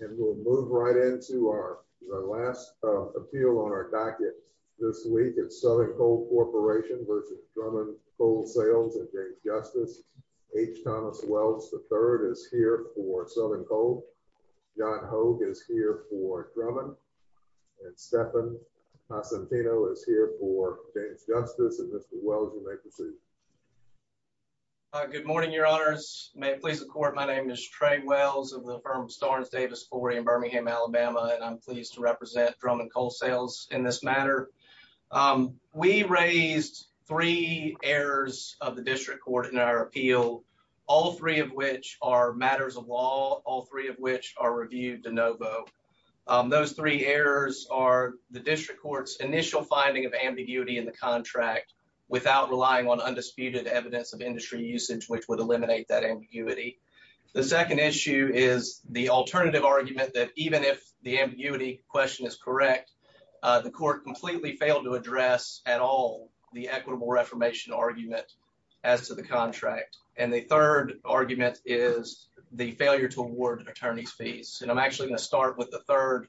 And we'll move right into our last appeal on our docket this week. It's Southern Coal Corporation v. Drummond Coal Sales and James Justice. H. Thomas Wells III is here for Southern Coal. John Hogue is here for Drummond. And Stephan Passantino is here for James Justice. And Mr. Wells, you may proceed. Good morning, your honors. May it please the court, my name is Trey Wells of the firm Starnes Davis Corey in Birmingham, Alabama, and I'm pleased to represent Drummond Coal Sales in this matter. We raised three errors of the district court in our appeal, all three of which are matters of law, all three of which are reviewed de novo. Those three errors are the district court's initial finding of ambiguity in the contract without relying on undisputed evidence of industry usage, which would eliminate that ambiguity. The second issue is the alternative argument that even if the ambiguity question is correct, the court completely failed to address at all the equitable reformation argument as to the contract. And the third argument is the failure to award attorney's fees. And I'm actually going to start with the third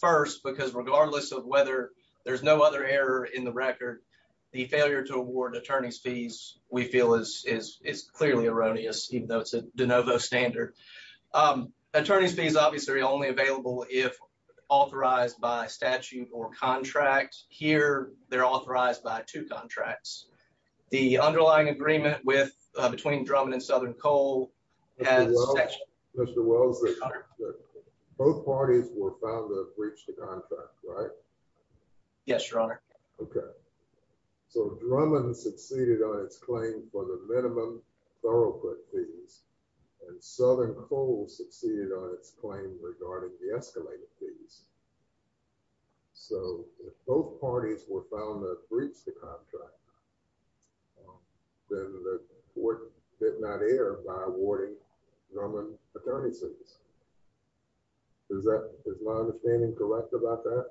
first, because regardless of whether there's no other error in the record, the failure to award attorney's fees we feel is clearly erroneous, even though it's a de novo standard. Attorney's fees obviously are only available if authorized by statute or contract. Here, they're authorized by two contracts. The underlying agreement between Drummond and Southern Coal has... Mr. Wells, both parties were found to have breached the contract, right? Yes, your honor. Okay, so Drummond succeeded on its claim for the minimum thoroughfare fees, and Southern Coal succeeded on its claim regarding the escalated fees. So if both parties were found to have breached the contract, then the court did not err by awarding Drummond attorney's fees. Is my understanding correct about that?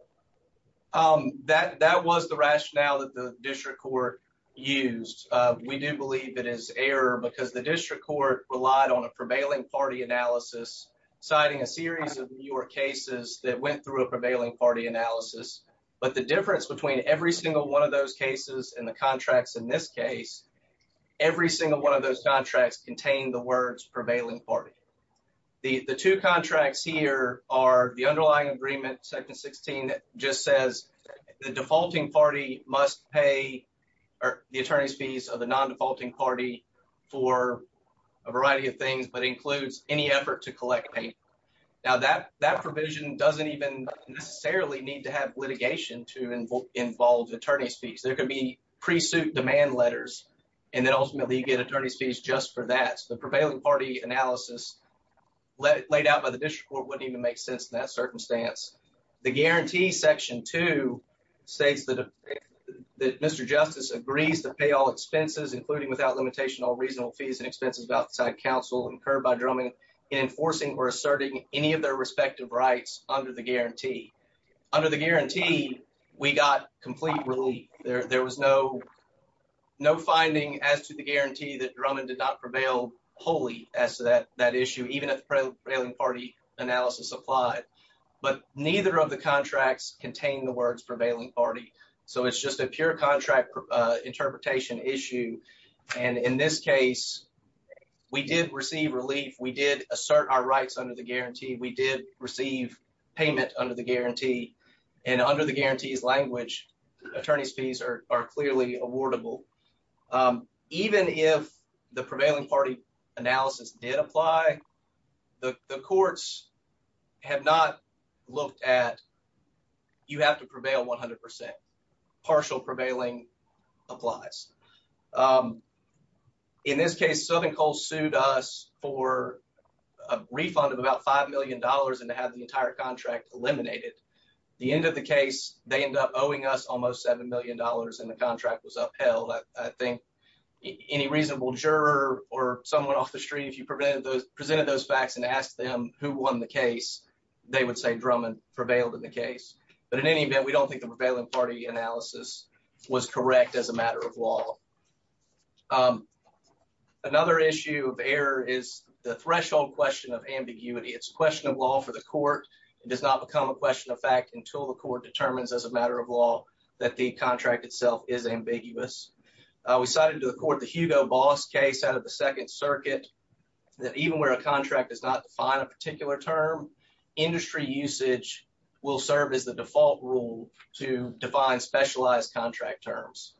That was the rationale that the district court used. We do believe it is error because the district court relied on a prevailing party analysis, citing a series of newer cases that went through a prevailing party analysis. But the difference between every single one of those cases and the contracts in this case, every single one of those contracts contain the words prevailing party. The two contracts here are the underlying agreement, section 16, that just says the defaulting party must pay the attorney's fees of the non-defaulting party for a variety of things, but includes any effort to collect pay. Now, that provision doesn't even necessarily need to have litigation to involve attorney's fees. There could be pre-suit demand letters, and then ultimately you get attorney's fees just for that. So the prevailing party analysis laid out by the district court wouldn't even make sense in that circumstance. The guarantee, section two, states that Mr. Justice agrees to pay all expenses, including without limitation, all reasonable fees and expenses of outside counsel incurred by Drummond in enforcing or asserting any of their respective rights under the guarantee. Under the guarantee, we got complete relief. There was no finding as to the guarantee that Drummond did not prevail wholly as to that issue, even at the prevailing party analysis applied. But neither of the contracts contain the words prevailing party. So it's just a pure contract interpretation issue. And in this case, we did receive relief. We did assert our rights under the guarantee. We did receive payment under the guarantee. And under the guarantee's language, attorney's fees are clearly awardable. Even if the prevailing party analysis did apply, the courts have not looked at, you have to prevail 100%. Partial prevailing applies. In this case, Southern Coal sued us for a refund of about $5 million and to have the entire contract eliminated. The end of the case, they ended up owing us almost $7 million and the contract was upheld. I think any reasonable juror or someone off the street, if you presented those facts and asked them who won the case, they would say Drummond prevailed in the case. But in any event, we don't think the prevailing party analysis was correct as a matter of law. Another issue of error is the threshold question of ambiguity. It's a question of law for the court. It does not become a question of fact until the court determines as a matter of law that the contract itself is ambiguous. We cited to the court the Hugo Boss case out of the Second Circuit that even where a contract does not define a particular term, industry usage will serve as the default rule to define specialized contract terms.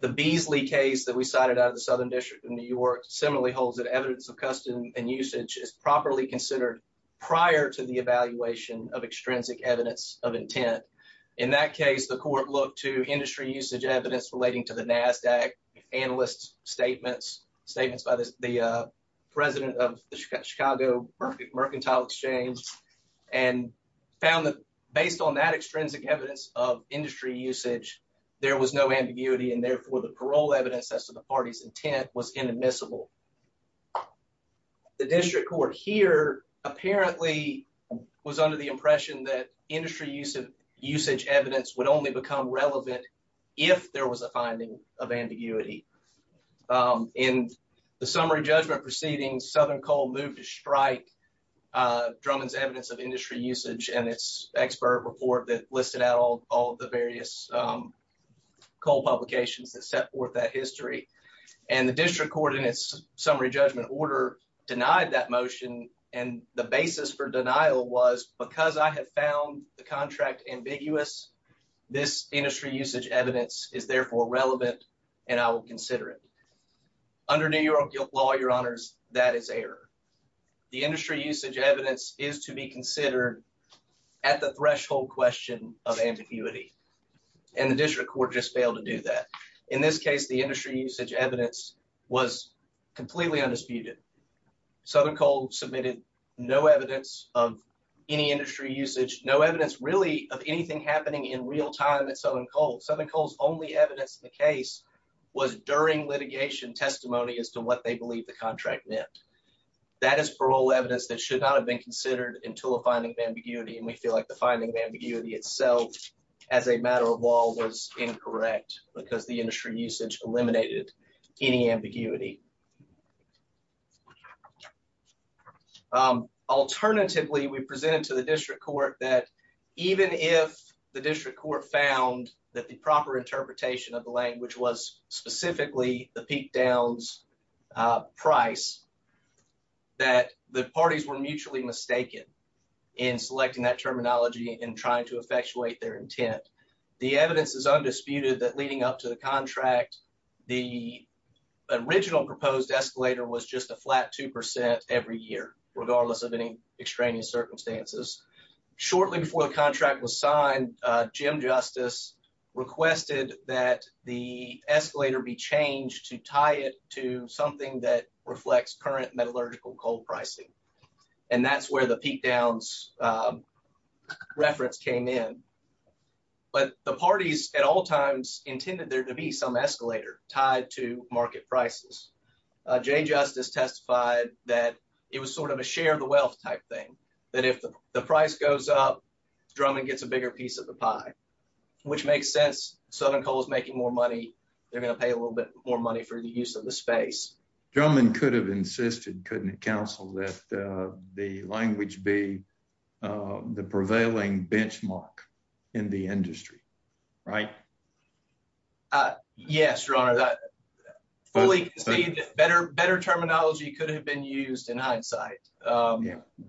The Beasley case that we cited out of the Southern District of New York similarly holds that evidence of custom and usage is properly considered prior to the evaluation of extrinsic evidence of intent. In that case, the court looked to industry usage evidence relating to the NASDAQ, analyst statements, statements by the president of the Chicago Mercantile Exchange and found that based on that extrinsic evidence of industry usage, there was no ambiguity and therefore the parole evidence as to the party's approval. The district court here apparently was under the impression that industry usage evidence would only become relevant if there was a finding of ambiguity. In the summary judgment proceeding, Southern Coal moved to strike Drummond's evidence of industry usage and its expert report that listed out all the various coal publications that set forth that history. And the district court in its summary judgment order denied that motion and the basis for denial was because I had found the contract ambiguous, this industry usage evidence is therefore relevant and I will consider it. Under New York law, your honors, that is error. The industry usage evidence is to be considered at the threshold question of ambiguity and the district court just failed to do that. In this case, the industry usage evidence was completely undisputed. Southern Coal submitted no evidence of any industry usage, no evidence really of anything happening in real time at Southern Coal. Southern Coal's only evidence in the case was during litigation testimony as to what they believe the contract meant. That is parole evidence that should not have been considered until a finding of ambiguity and we feel like the finding of ambiguity itself as a matter of law was incorrect because the industry usage eliminated any ambiguity. Alternatively, we presented to the district court that even if the district court found that the proper interpretation of the language was specifically the peak downs price, that the parties were mutually mistaken in selecting that terminology and trying to effectuate their intent. The evidence is undisputed that leading up to the contract, the original proposed escalator was just a flat two percent every year regardless of any extraneous circumstances. Shortly before the contract was signed, Jim Justice requested that the escalator be changed to tie it to something that reflects current metallurgical coal pricing and that's where the peak downs reference came in. The parties at all times intended there to be some escalator tied to market prices. Jay Justice testified that it was sort of a share the wealth type thing, that if the price goes up, Drummond gets a bigger piece of the pie, which makes sense. Southern Coal is making more money, they're going to pay a little bit more money for the use of the space. Drummond could have insisted, couldn't it right? Yes, your honor, that fully conceded that better terminology could have been used in hindsight. Yeah,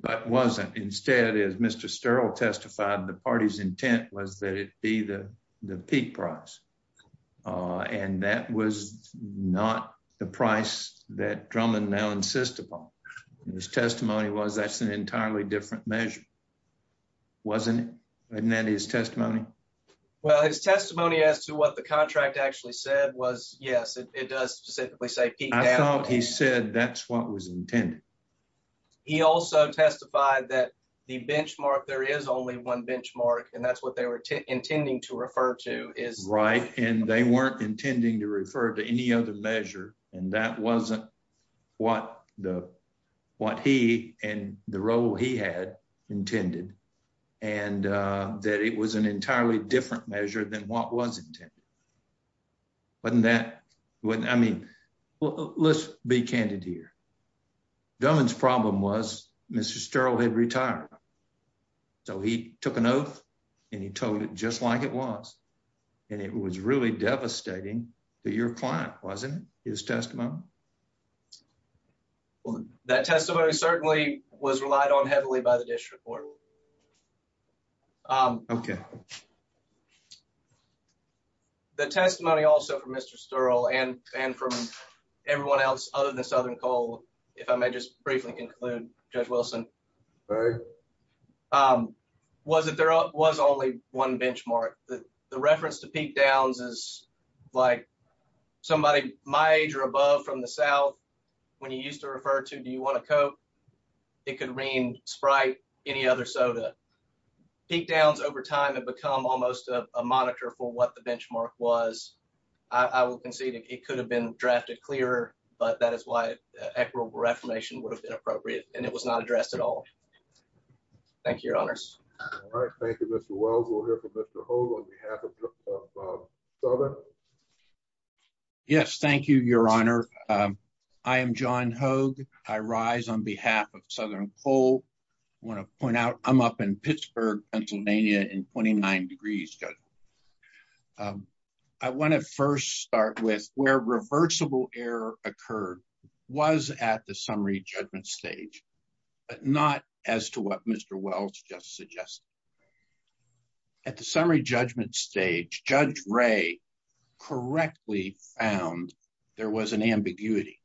but wasn't. Instead, as Mr. Sterl testified, the party's intent was that it be the the peak price and that was not the price that Drummond now insists upon. His testimony was an entirely different measure, wasn't it? Isn't that his testimony? Well, his testimony as to what the contract actually said was yes, it does specifically say peak down. I thought he said that's what was intended. He also testified that the benchmark, there is only one benchmark and that's what they were intending to refer to. Right, and they weren't intending to refer to any other measure and that wasn't what he and the role he had intended and that it was an entirely different measure than what was intended. Wasn't that? I mean, let's be candid here. Drummond's problem was Mr. Sterl had retired, so he took an oath and he told it just like it was and it was really devastating to your client, wasn't it? His testimony. Well, that testimony certainly was relied on heavily by the district court. Okay. The testimony also from Mr. Sterl and from everyone else other than Southern Cole, if I may just briefly include Judge Wilson, was that there was only one benchmark. The reference to peak downs is like somebody my age or above from the South, when you used to refer to do you want to cope, it could mean Sprite, any other soda. Peak downs over time have become almost a monitor for what the benchmark was. I will concede it could have been drafted clearer, but that is why equitable reformation would have been appropriate and it was not addressed at all. Thank you, your honors. All right. Thank you, Mr. Wells. We'll hear from Mr. Hold on behalf of Southern. Yes, thank you, your honor. I am John Hoag. I rise on behalf of Southern Cole. I want to point out I'm up in Pittsburgh, Pennsylvania in 29 degrees. I want to first start with where reversible error occurred was at the summary judgment stage, but not as to what Mr. Wells just suggested. At the summary judgment stage, Judge Ray correctly found there was an ambiguity.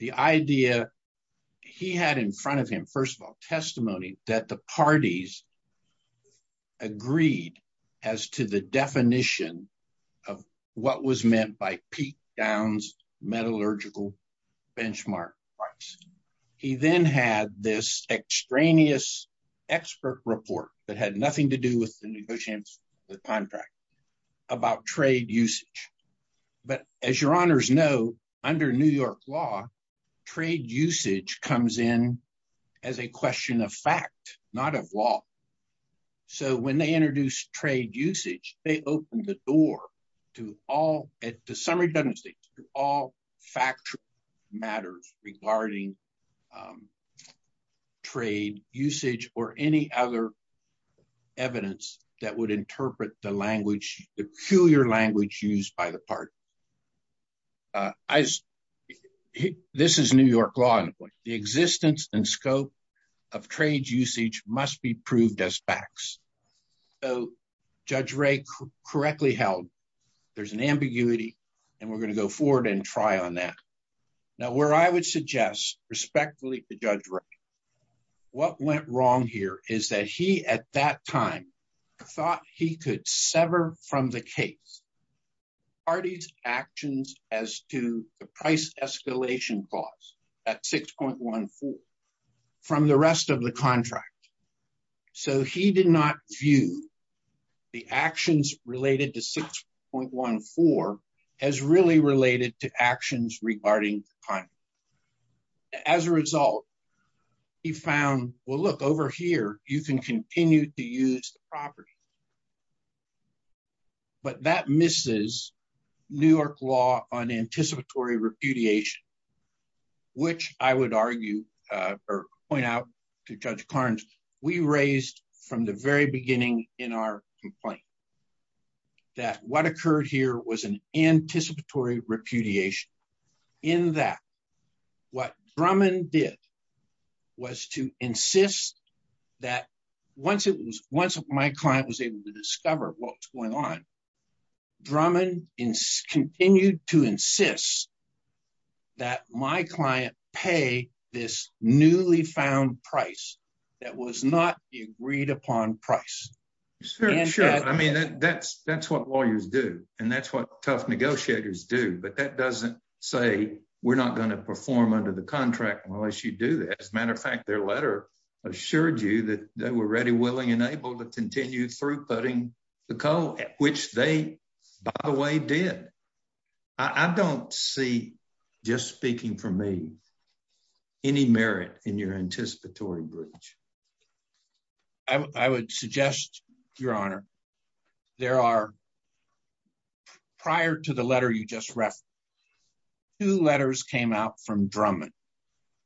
The idea he had in front of him, first of all, that the parties agreed as to the definition of what was meant by peak downs metallurgical benchmark price. He then had this extraneous expert report that had nothing to do with the negotiations, the contract about trade usage. But as your honors know, under New York law, trade usage comes in as a question of fact, not of law. So when they introduce trade usage, they open the door to all at the summary judgment stage to all factual matters regarding trade usage or any other evidence that would interpret the language, the peculiar language used by the party. This is New York law. The existence and scope of trade usage must be proved as facts. Judge Ray correctly held there's an ambiguity, and we're going to go forward and try on that. Now, where I would suggest respectfully to Judge Time, I thought he could sever from the case parties' actions as to the price escalation clause at 6.14 from the rest of the contract. So he did not view the actions related to 6.14 as really related to actions regarding the contract. As a result, he found, well, look over here, you can continue to use the property. But that misses New York law on anticipatory repudiation, which I would argue or point out to Judge Carnes, we raised from the very beginning in our complaint that what occurred here was an anticipatory repudiation in that what Drummond did was to insist that once my client was able to discover what was going on, Drummond continued to insist that my client pay this newly found price that was not the agreed upon price. Sure, sure. I mean, that's what lawyers do, and that's what tough negotiators do. But that doesn't say we're not going to perform under the contract unless you do that. As a matter of fact, their letter assured you that they were ready, willing, and able to continue throughputing the coal, which they, by the way, did. I don't see, just speaking for me, any merit in your reference, two letters came out from Drummond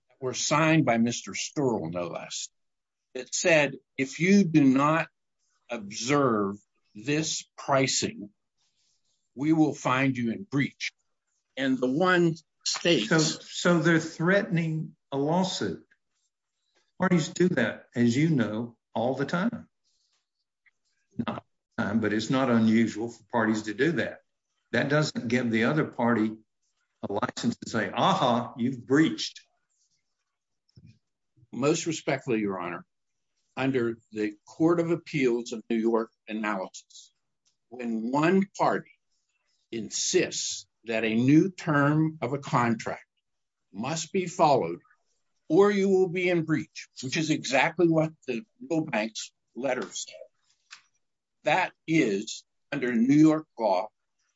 that were signed by Mr. Stuerl, no less, that said, if you do not observe this pricing, we will find you in breach. And the one states... So they're threatening a lawsuit. Parties do that, as you know, all the time. All the time, but it's not unusual for parties to do that. That doesn't give the other party a license to say, aha, you've breached. Most respectfully, Your Honor, under the Court of Appeals of New York analysis, when one party insists that a new term of a contract must be followed or you will be in breach, which is what the letter said, that is, under New York law,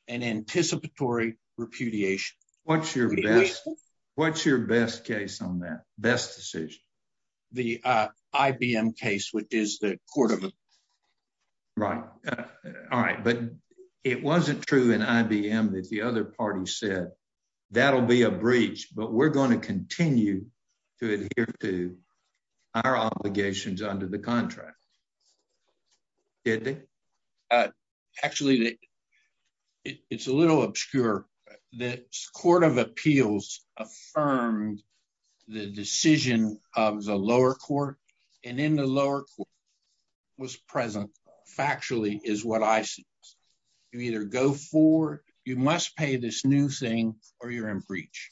an anticipatory repudiation. What's your best case on that? Best decision? The IBM case, which is the court of... Right. All right. But it wasn't true in IBM that the other party said, that'll be a breach, but we're going to continue to adhere to our obligations under the contract. Did they? Actually, it's a little obscure. The Court of Appeals affirmed the decision of the lower court and in the lower court was present. Factually, is what I see. You either go for, you must pay this new thing or you're in breach.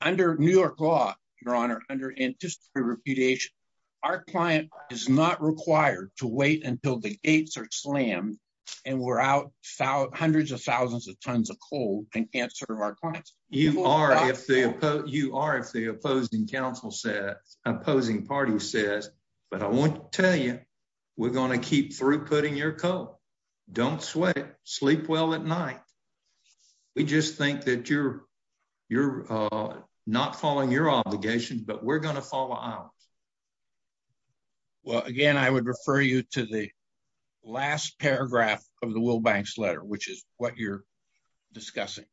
Under New York law, Your Honor, under anticipatory repudiation, our client is not required to wait until the gates are slammed and we're out hundreds of thousands of tons of coal and can't serve our clients. You are if the opposing party says, but I want to tell you, we're going to keep throughputing your coal. Don't sweat. Sleep well at night. We just think that you're not following your obligations, but we're going to keep it. Well, again, I would refer you to the last paragraph of the Will Banks letter, which is what you're discussing.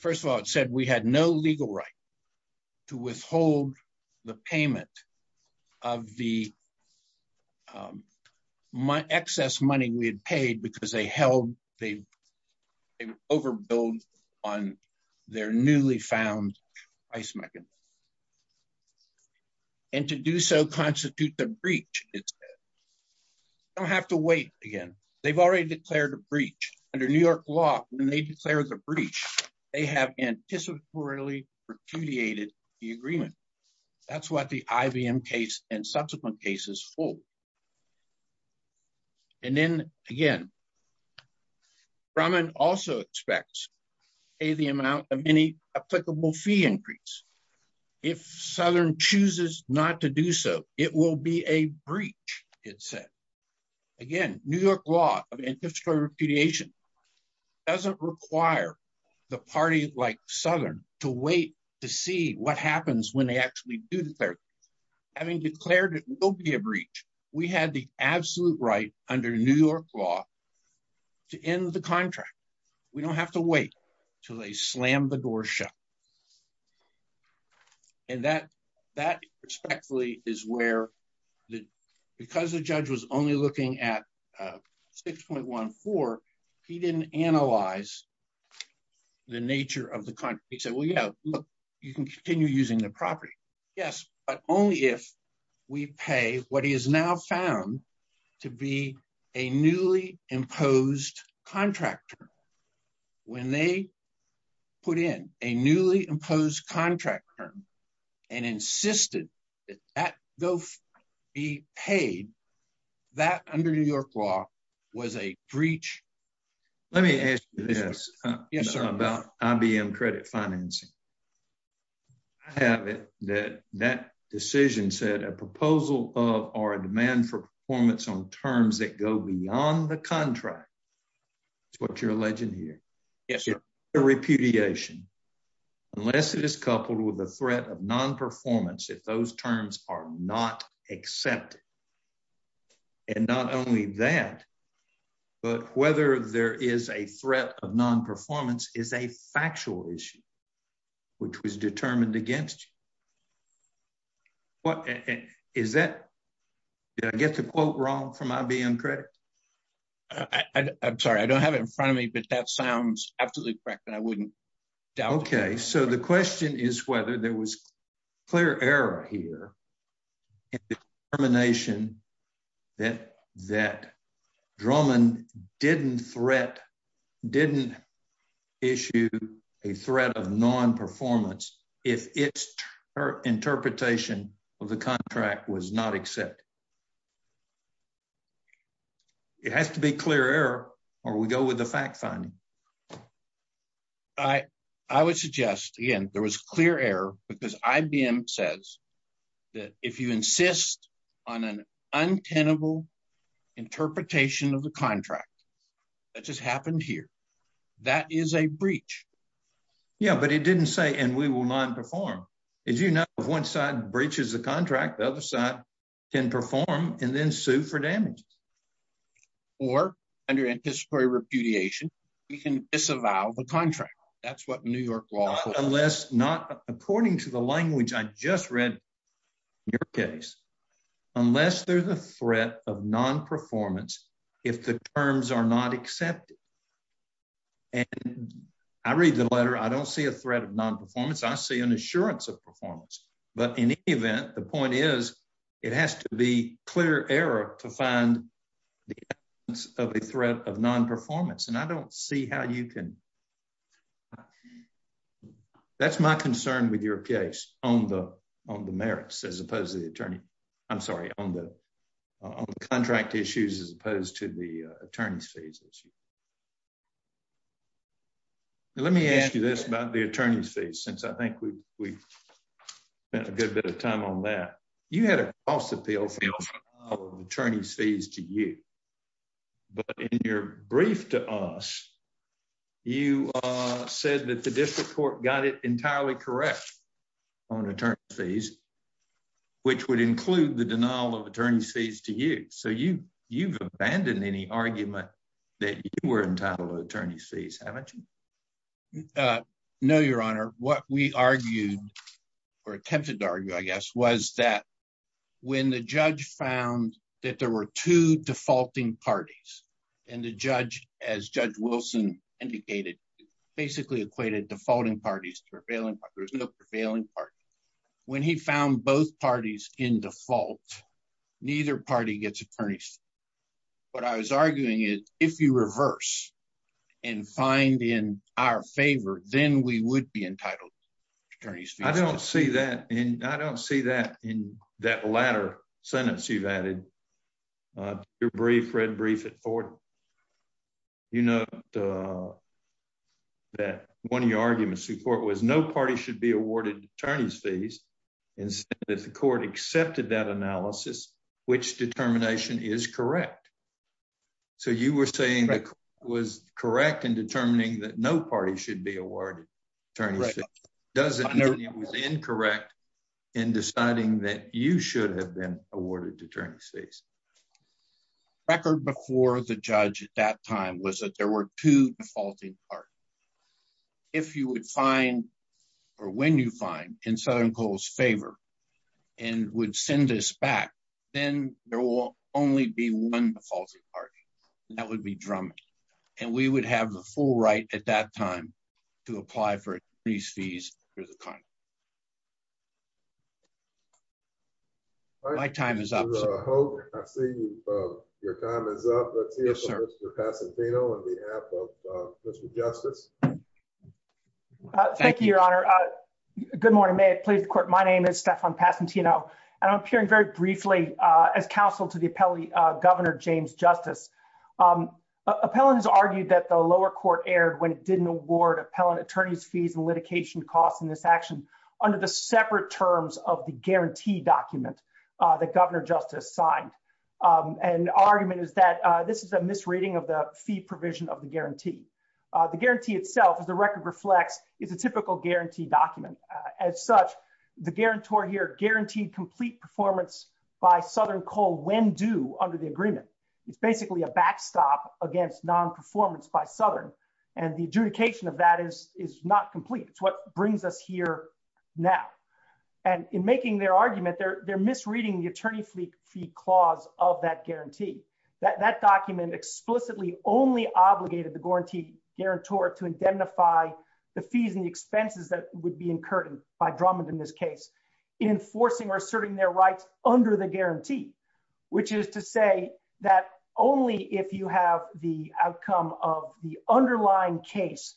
First of all, it said we had no legal right to withhold the payment of the excess money we had paid because they held, they overbilled on their newly found price mechanism. And to do so constitute the breach, it said. Don't have to wait again. They've already declared a breach. Under New York law, when they declare the breach, they have anticipatorily repudiated the agreement. That's what the IBM case and subsequent cases hold. And then again, Brahman also expects the amount of any applicable fee increase. If Southern chooses not to do so, it will be a breach, it said. Again, New York law of anticipatory repudiation doesn't require the party like Southern to wait to see what happens when they actually do declare. Having declared it will be a breach, we had the absolute right under New York law to end the contract. We don't have to wait till they slam the door shut. And that respectfully is where, because the judge was only looking at 6.14, he didn't analyze the nature of the contract. He said, well, yeah, look, you can continue using the property. Yes, but only if we pay what is now found to be a newly imposed contract term. When they put in a newly imposed contract term and insisted that that bill be paid, that under New York law was a breach. Let me ask you this about IBM credit financing. I have it that that decision said a proposal of or a demand for performance on terms that go beyond the contract. That's what you're alleging here. Yes, sir. Repudiation, unless it is coupled with a threat of non-performance, if those terms are not accepted. And not only that, but whether there is a threat of non-performance is a factual issue, which was determined against you. What is that? Did I get the quote wrong from IBM credit? I'm sorry, I don't have it in front of me, but that sounds absolutely correct. And I wouldn't doubt it. Okay, so the question is whether there was clear error here in the termination that Drummond didn't issue a threat of non-performance if its interpretation of the contract was not accepted. It has to be clear error or we go with the fact finding. I would suggest, again, there was clear error because IBM says that if you insist on an untenable interpretation of the contract, that just happened here, that is a breach. Yeah, but it didn't say and we will not perform. As you know, if one side breaches the contract, the other side can perform and then sue for damage. Or under anticipatory repudiation, we can disavow the contract. That's what New York law says. Unless not, according to the language I just read in your case, unless there's a threat of non-performance, if the terms are not accepted. And I read the letter, I don't see a threat of non-performance, I see an assurance of performance. But in any event, the point is, it has to be error to find the evidence of a threat of non-performance. And I don't see how you can. That's my concern with your case on the merits as opposed to the attorney, I'm sorry, on the contract issues as opposed to the attorney's fees issue. Let me ask you this about the attorney's fees since I think we've spent a good bit of time on that. You had a cost appeal for attorney's fees to you. But in your brief to us, you said that the district court got it entirely correct on attorney's fees, which would include the denial of attorney's fees to you. So you've abandoned any argument that you were entitled to attorney's fees, haven't you? No, Your Honor. What we argued or attempted to argue, I guess, was that when the judge found that there were two defaulting parties, and the judge, as Judge Wilson indicated, basically equated defaulting parties to prevailing parties, there was no prevailing party. When he found both parties in default, neither party gets attorney's fees. What I was arguing is, if you reverse and find in our favor, then we would be entitled to attorney's fees. I don't see that in that latter sentence you've added. Your brief, red brief at 40. You note that one of your arguments to the court was no party should be awarded attorney's fees. Instead, the court accepted that analysis, which determination is correct. So you were saying that was correct in determining that no party should be awarded attorney's fees. Does it mean it was incorrect in deciding that you should have been awarded attorney's fees? The record before the judge at that time was that there were two defaulting parties. If you would find, or when you find, in Southern Cole's favor, and would send us back, then there will only be one defaulting party, and that would be at that time to apply for attorney's fees. My time is up. I see your time is up. Thank you, Your Honor. Good morning. May it please the court. My name is Stephan Passantino, and I'm appearing very briefly as counsel to the appellee, Governor James Justice. Appellant has argued that the lower court erred when it didn't award appellant attorney's fees and litigation costs in this action under the separate terms of the guarantee document that Governor Justice signed. And argument is that this is a misreading of the fee provision of the guarantee. The guarantee itself, as the record reflects, is a typical guarantee document. As such, the guarantor here guaranteed complete performance by Southern Cole when due under the backstop against non-performance by Southern. And the adjudication of that is not complete. It's what brings us here now. And in making their argument, they're misreading the attorney fee clause of that guarantee. That document explicitly only obligated the guarantee guarantor to indemnify the fees and the expenses that would be incurred by Drummond in this case in enforcing or asserting their rights under the guarantee, which is to say that only if you have the outcome of the underlying case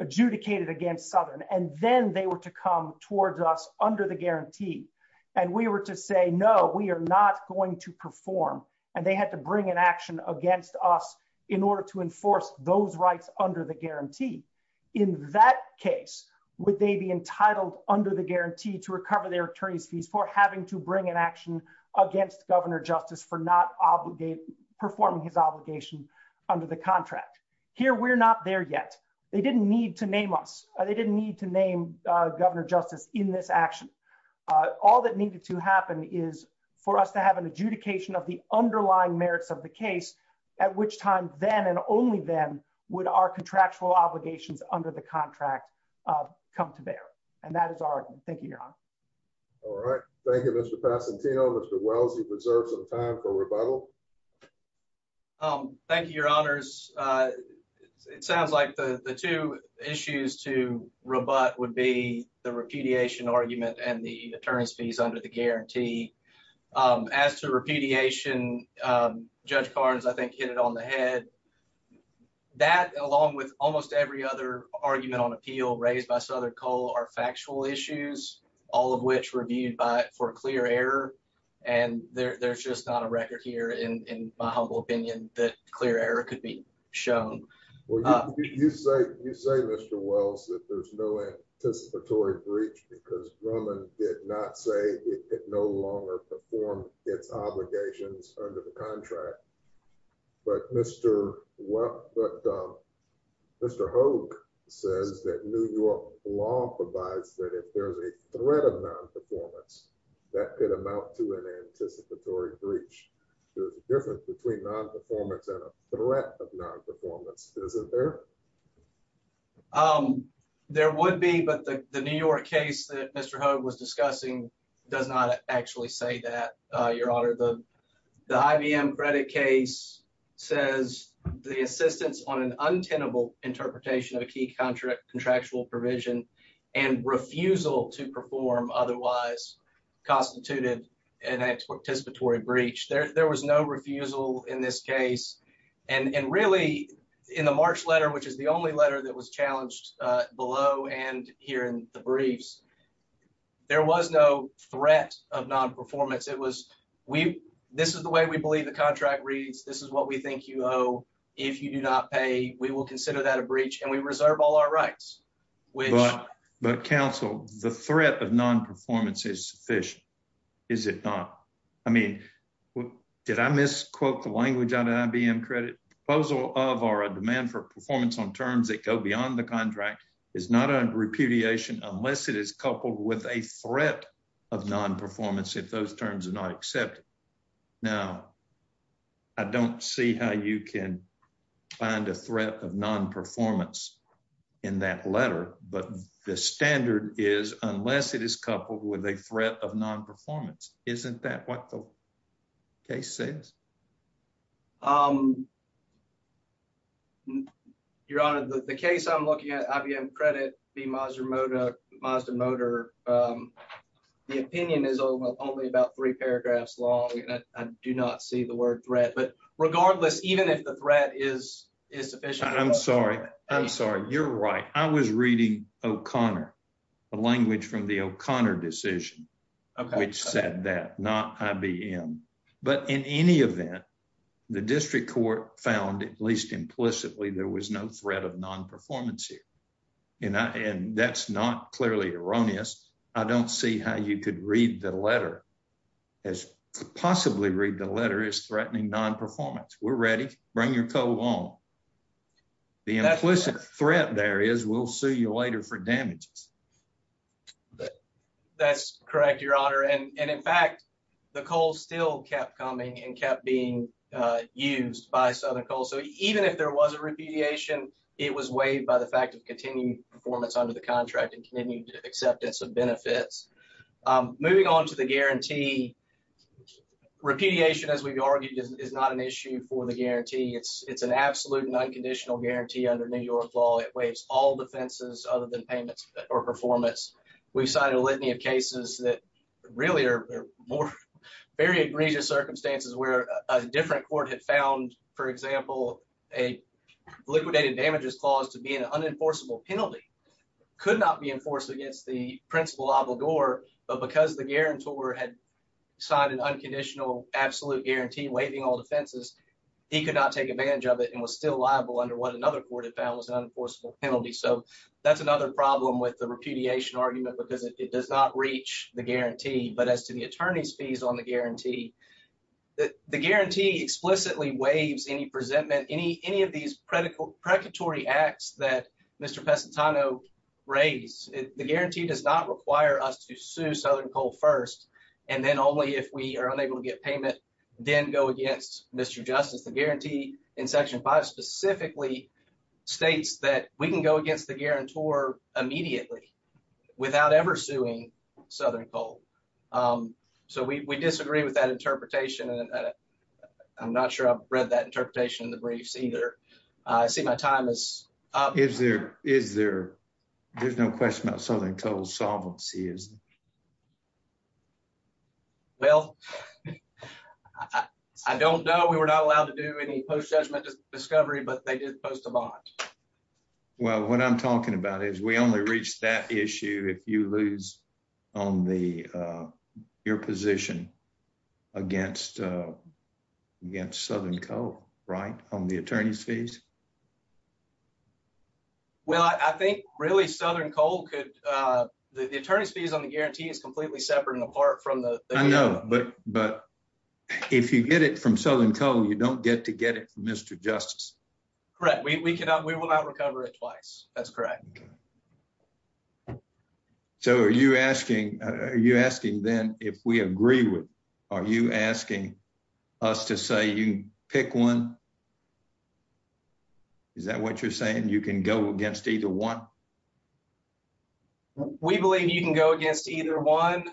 adjudicated against Southern, and then they were to come towards us under the guarantee, and we were to say, no, we are not going to perform, and they had to bring an action against us in order to enforce those rights under the guarantee. In that case, would they be entitled under the guarantee to recover their attorney's fees for having to bring an action against Governor Justice for not performing his obligation under the contract? Here, we're not there yet. They didn't need to name us. They didn't need to name Governor Justice in this action. All that needed to happen is for us to have an adjudication of the underlying merits of the case, at which time then and only then would our contractual obligations under the contract come to bear, and that is our argument. Thank you, Your Honor. All right. Thank you, Mr. Passantino. Mr. Wells, you've reserved some time for rebuttal. Thank you, Your Honors. It sounds like the two issues to rebut would be the repudiation argument and the attorney's fees under the guarantee. As to repudiation, Judge Carnes, I think, hit it on the head. That, along with almost every other argument on appeal raised by Southern Cole, are factual issues, all of which reviewed for clear error, and there's just not a record here, in my humble opinion, that clear error could be shown. Well, you say, Mr. Wells, that there's no anticipatory breach because Grumman did not say it no longer performed its obligations under the contract, but Mr. Hogue says that New York law provides that if there's a threat of non-performance, that could amount to an anticipatory breach. There's a difference between non-performance and a threat of non-performance, isn't there? There would be, but the New York case that Mr. Hogue actually say that, Your Honor, the IBM credit case says the assistance on an untenable interpretation of a key contractual provision and refusal to perform otherwise constituted an anticipatory breach. There was no refusal in this case, and really, in the March letter, which is the only letter that was challenged below and here in the briefs, there was no threat of non-performance. This is the way we believe the contract reads. This is what we think you owe. If you do not pay, we will consider that a breach, and we reserve all our rights. But, counsel, the threat of non-performance is sufficient, is it not? I mean, did I misquote the language out of IBM credit? Proposal of or a demand for performance on terms that go beyond the non-performance if those terms are not accepted. Now, I don't see how you can find a threat of non-performance in that letter, but the standard is unless it is coupled with a threat of non-performance. Isn't that what the case says? Your Honor, the case I'm looking at, IBM credit v. Mazda Motor, the opinion is only about three paragraphs long, and I do not see the word threat, but regardless, even if the threat is sufficient. I'm sorry. I'm sorry. You're right. I was reading O'Connor, the language from the O'Connor decision, which said that, not IBM, but in any event, the district court found, at least implicitly, there was no threat of non-performance here, and that's not clearly erroneous. I don't see how you could read the letter as to possibly read the letter as threatening non-performance. We're ready. Bring your coal on. The implicit threat there is we'll sue you later for damages. That's correct, Your Honor, and in fact, the coal still kept coming and kept being used by Southern Coal, so even if there was a repudiation, it was waived by the fact of continued performance under the contract and continued acceptance of benefits. Moving on to the guarantee, repudiation, as we've argued, is not an issue for the guarantee. It's an absolute and unconditional guarantee under New York law. It waives all defenses other than payments or performance. We've cited a litany of cases that really are more very egregious circumstances where a different court had found, for example, a liquidated damages clause to be an unenforceable penalty, could not be enforced against the principal obligor, but because the guarantor had signed an unconditional absolute guarantee waiving all defenses, he could not take advantage of it and was still liable under what another court had found was an unenforceable penalty, so that's another problem with the repudiation argument because it does not reach the guarantee, but as to the attorney's fees on the guarantee, the guarantee explicitly waives any presentment, any of these predatory acts that Mr. Pesentano raised. The guarantee does not require us to sue Southern Coal first and then only if we are unable to get payment, then go against Mr. Justice. The guarantee in Section 5 specifically states that we can go against the guarantor immediately without ever suing Southern Coal, so we disagree with that interpretation and I'm not sure I've read that interpretation in the briefs either. I see my time is up. Is there, there's no question about Southern Coal's solvency, is there? Well, I don't know. We were not allowed to do any post-judgment discovery, but they did post a bond. Well, what I'm talking about is we only reach that issue if you lose on the, your position against Southern Coal, right, on the attorney's fees? Well, I think really Southern Coal could, the attorney's fees on the guarantee is completely separate and apart from the... I know, but if you get it from Southern Coal, you don't get to get it from Mr. Justice. Correct. We cannot, we will not recover it twice. That's correct. So are you asking, are you asking then if we agree with, are you asking us to say you pick one? Is that what you're saying? You can go against either one? We believe you can go against either one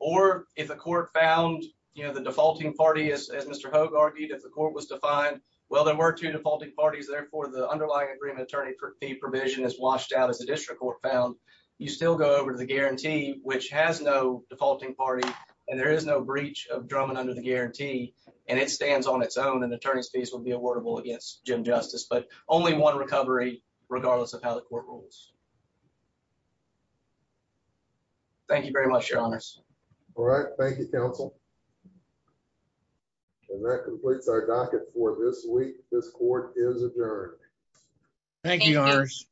or if the court found, you know, the defaulting party, as Mr. Hogue argued, if the court was defined, well, there were two defaulting parties, therefore the underlying agreement attorney fee provision is washed out as the district court found. You still go over to the guarantee, which has no defaulting party and there is no breach of Drummond under the guarantee and it stands on its own and attorney's fees would be awardable against Jim Justice, but only one recovery regardless of how the court rules. Thank you very much, your honors. All right. Thank you, counsel. And that completes our docket for this week. This court is adjourned. Thank you, your honors.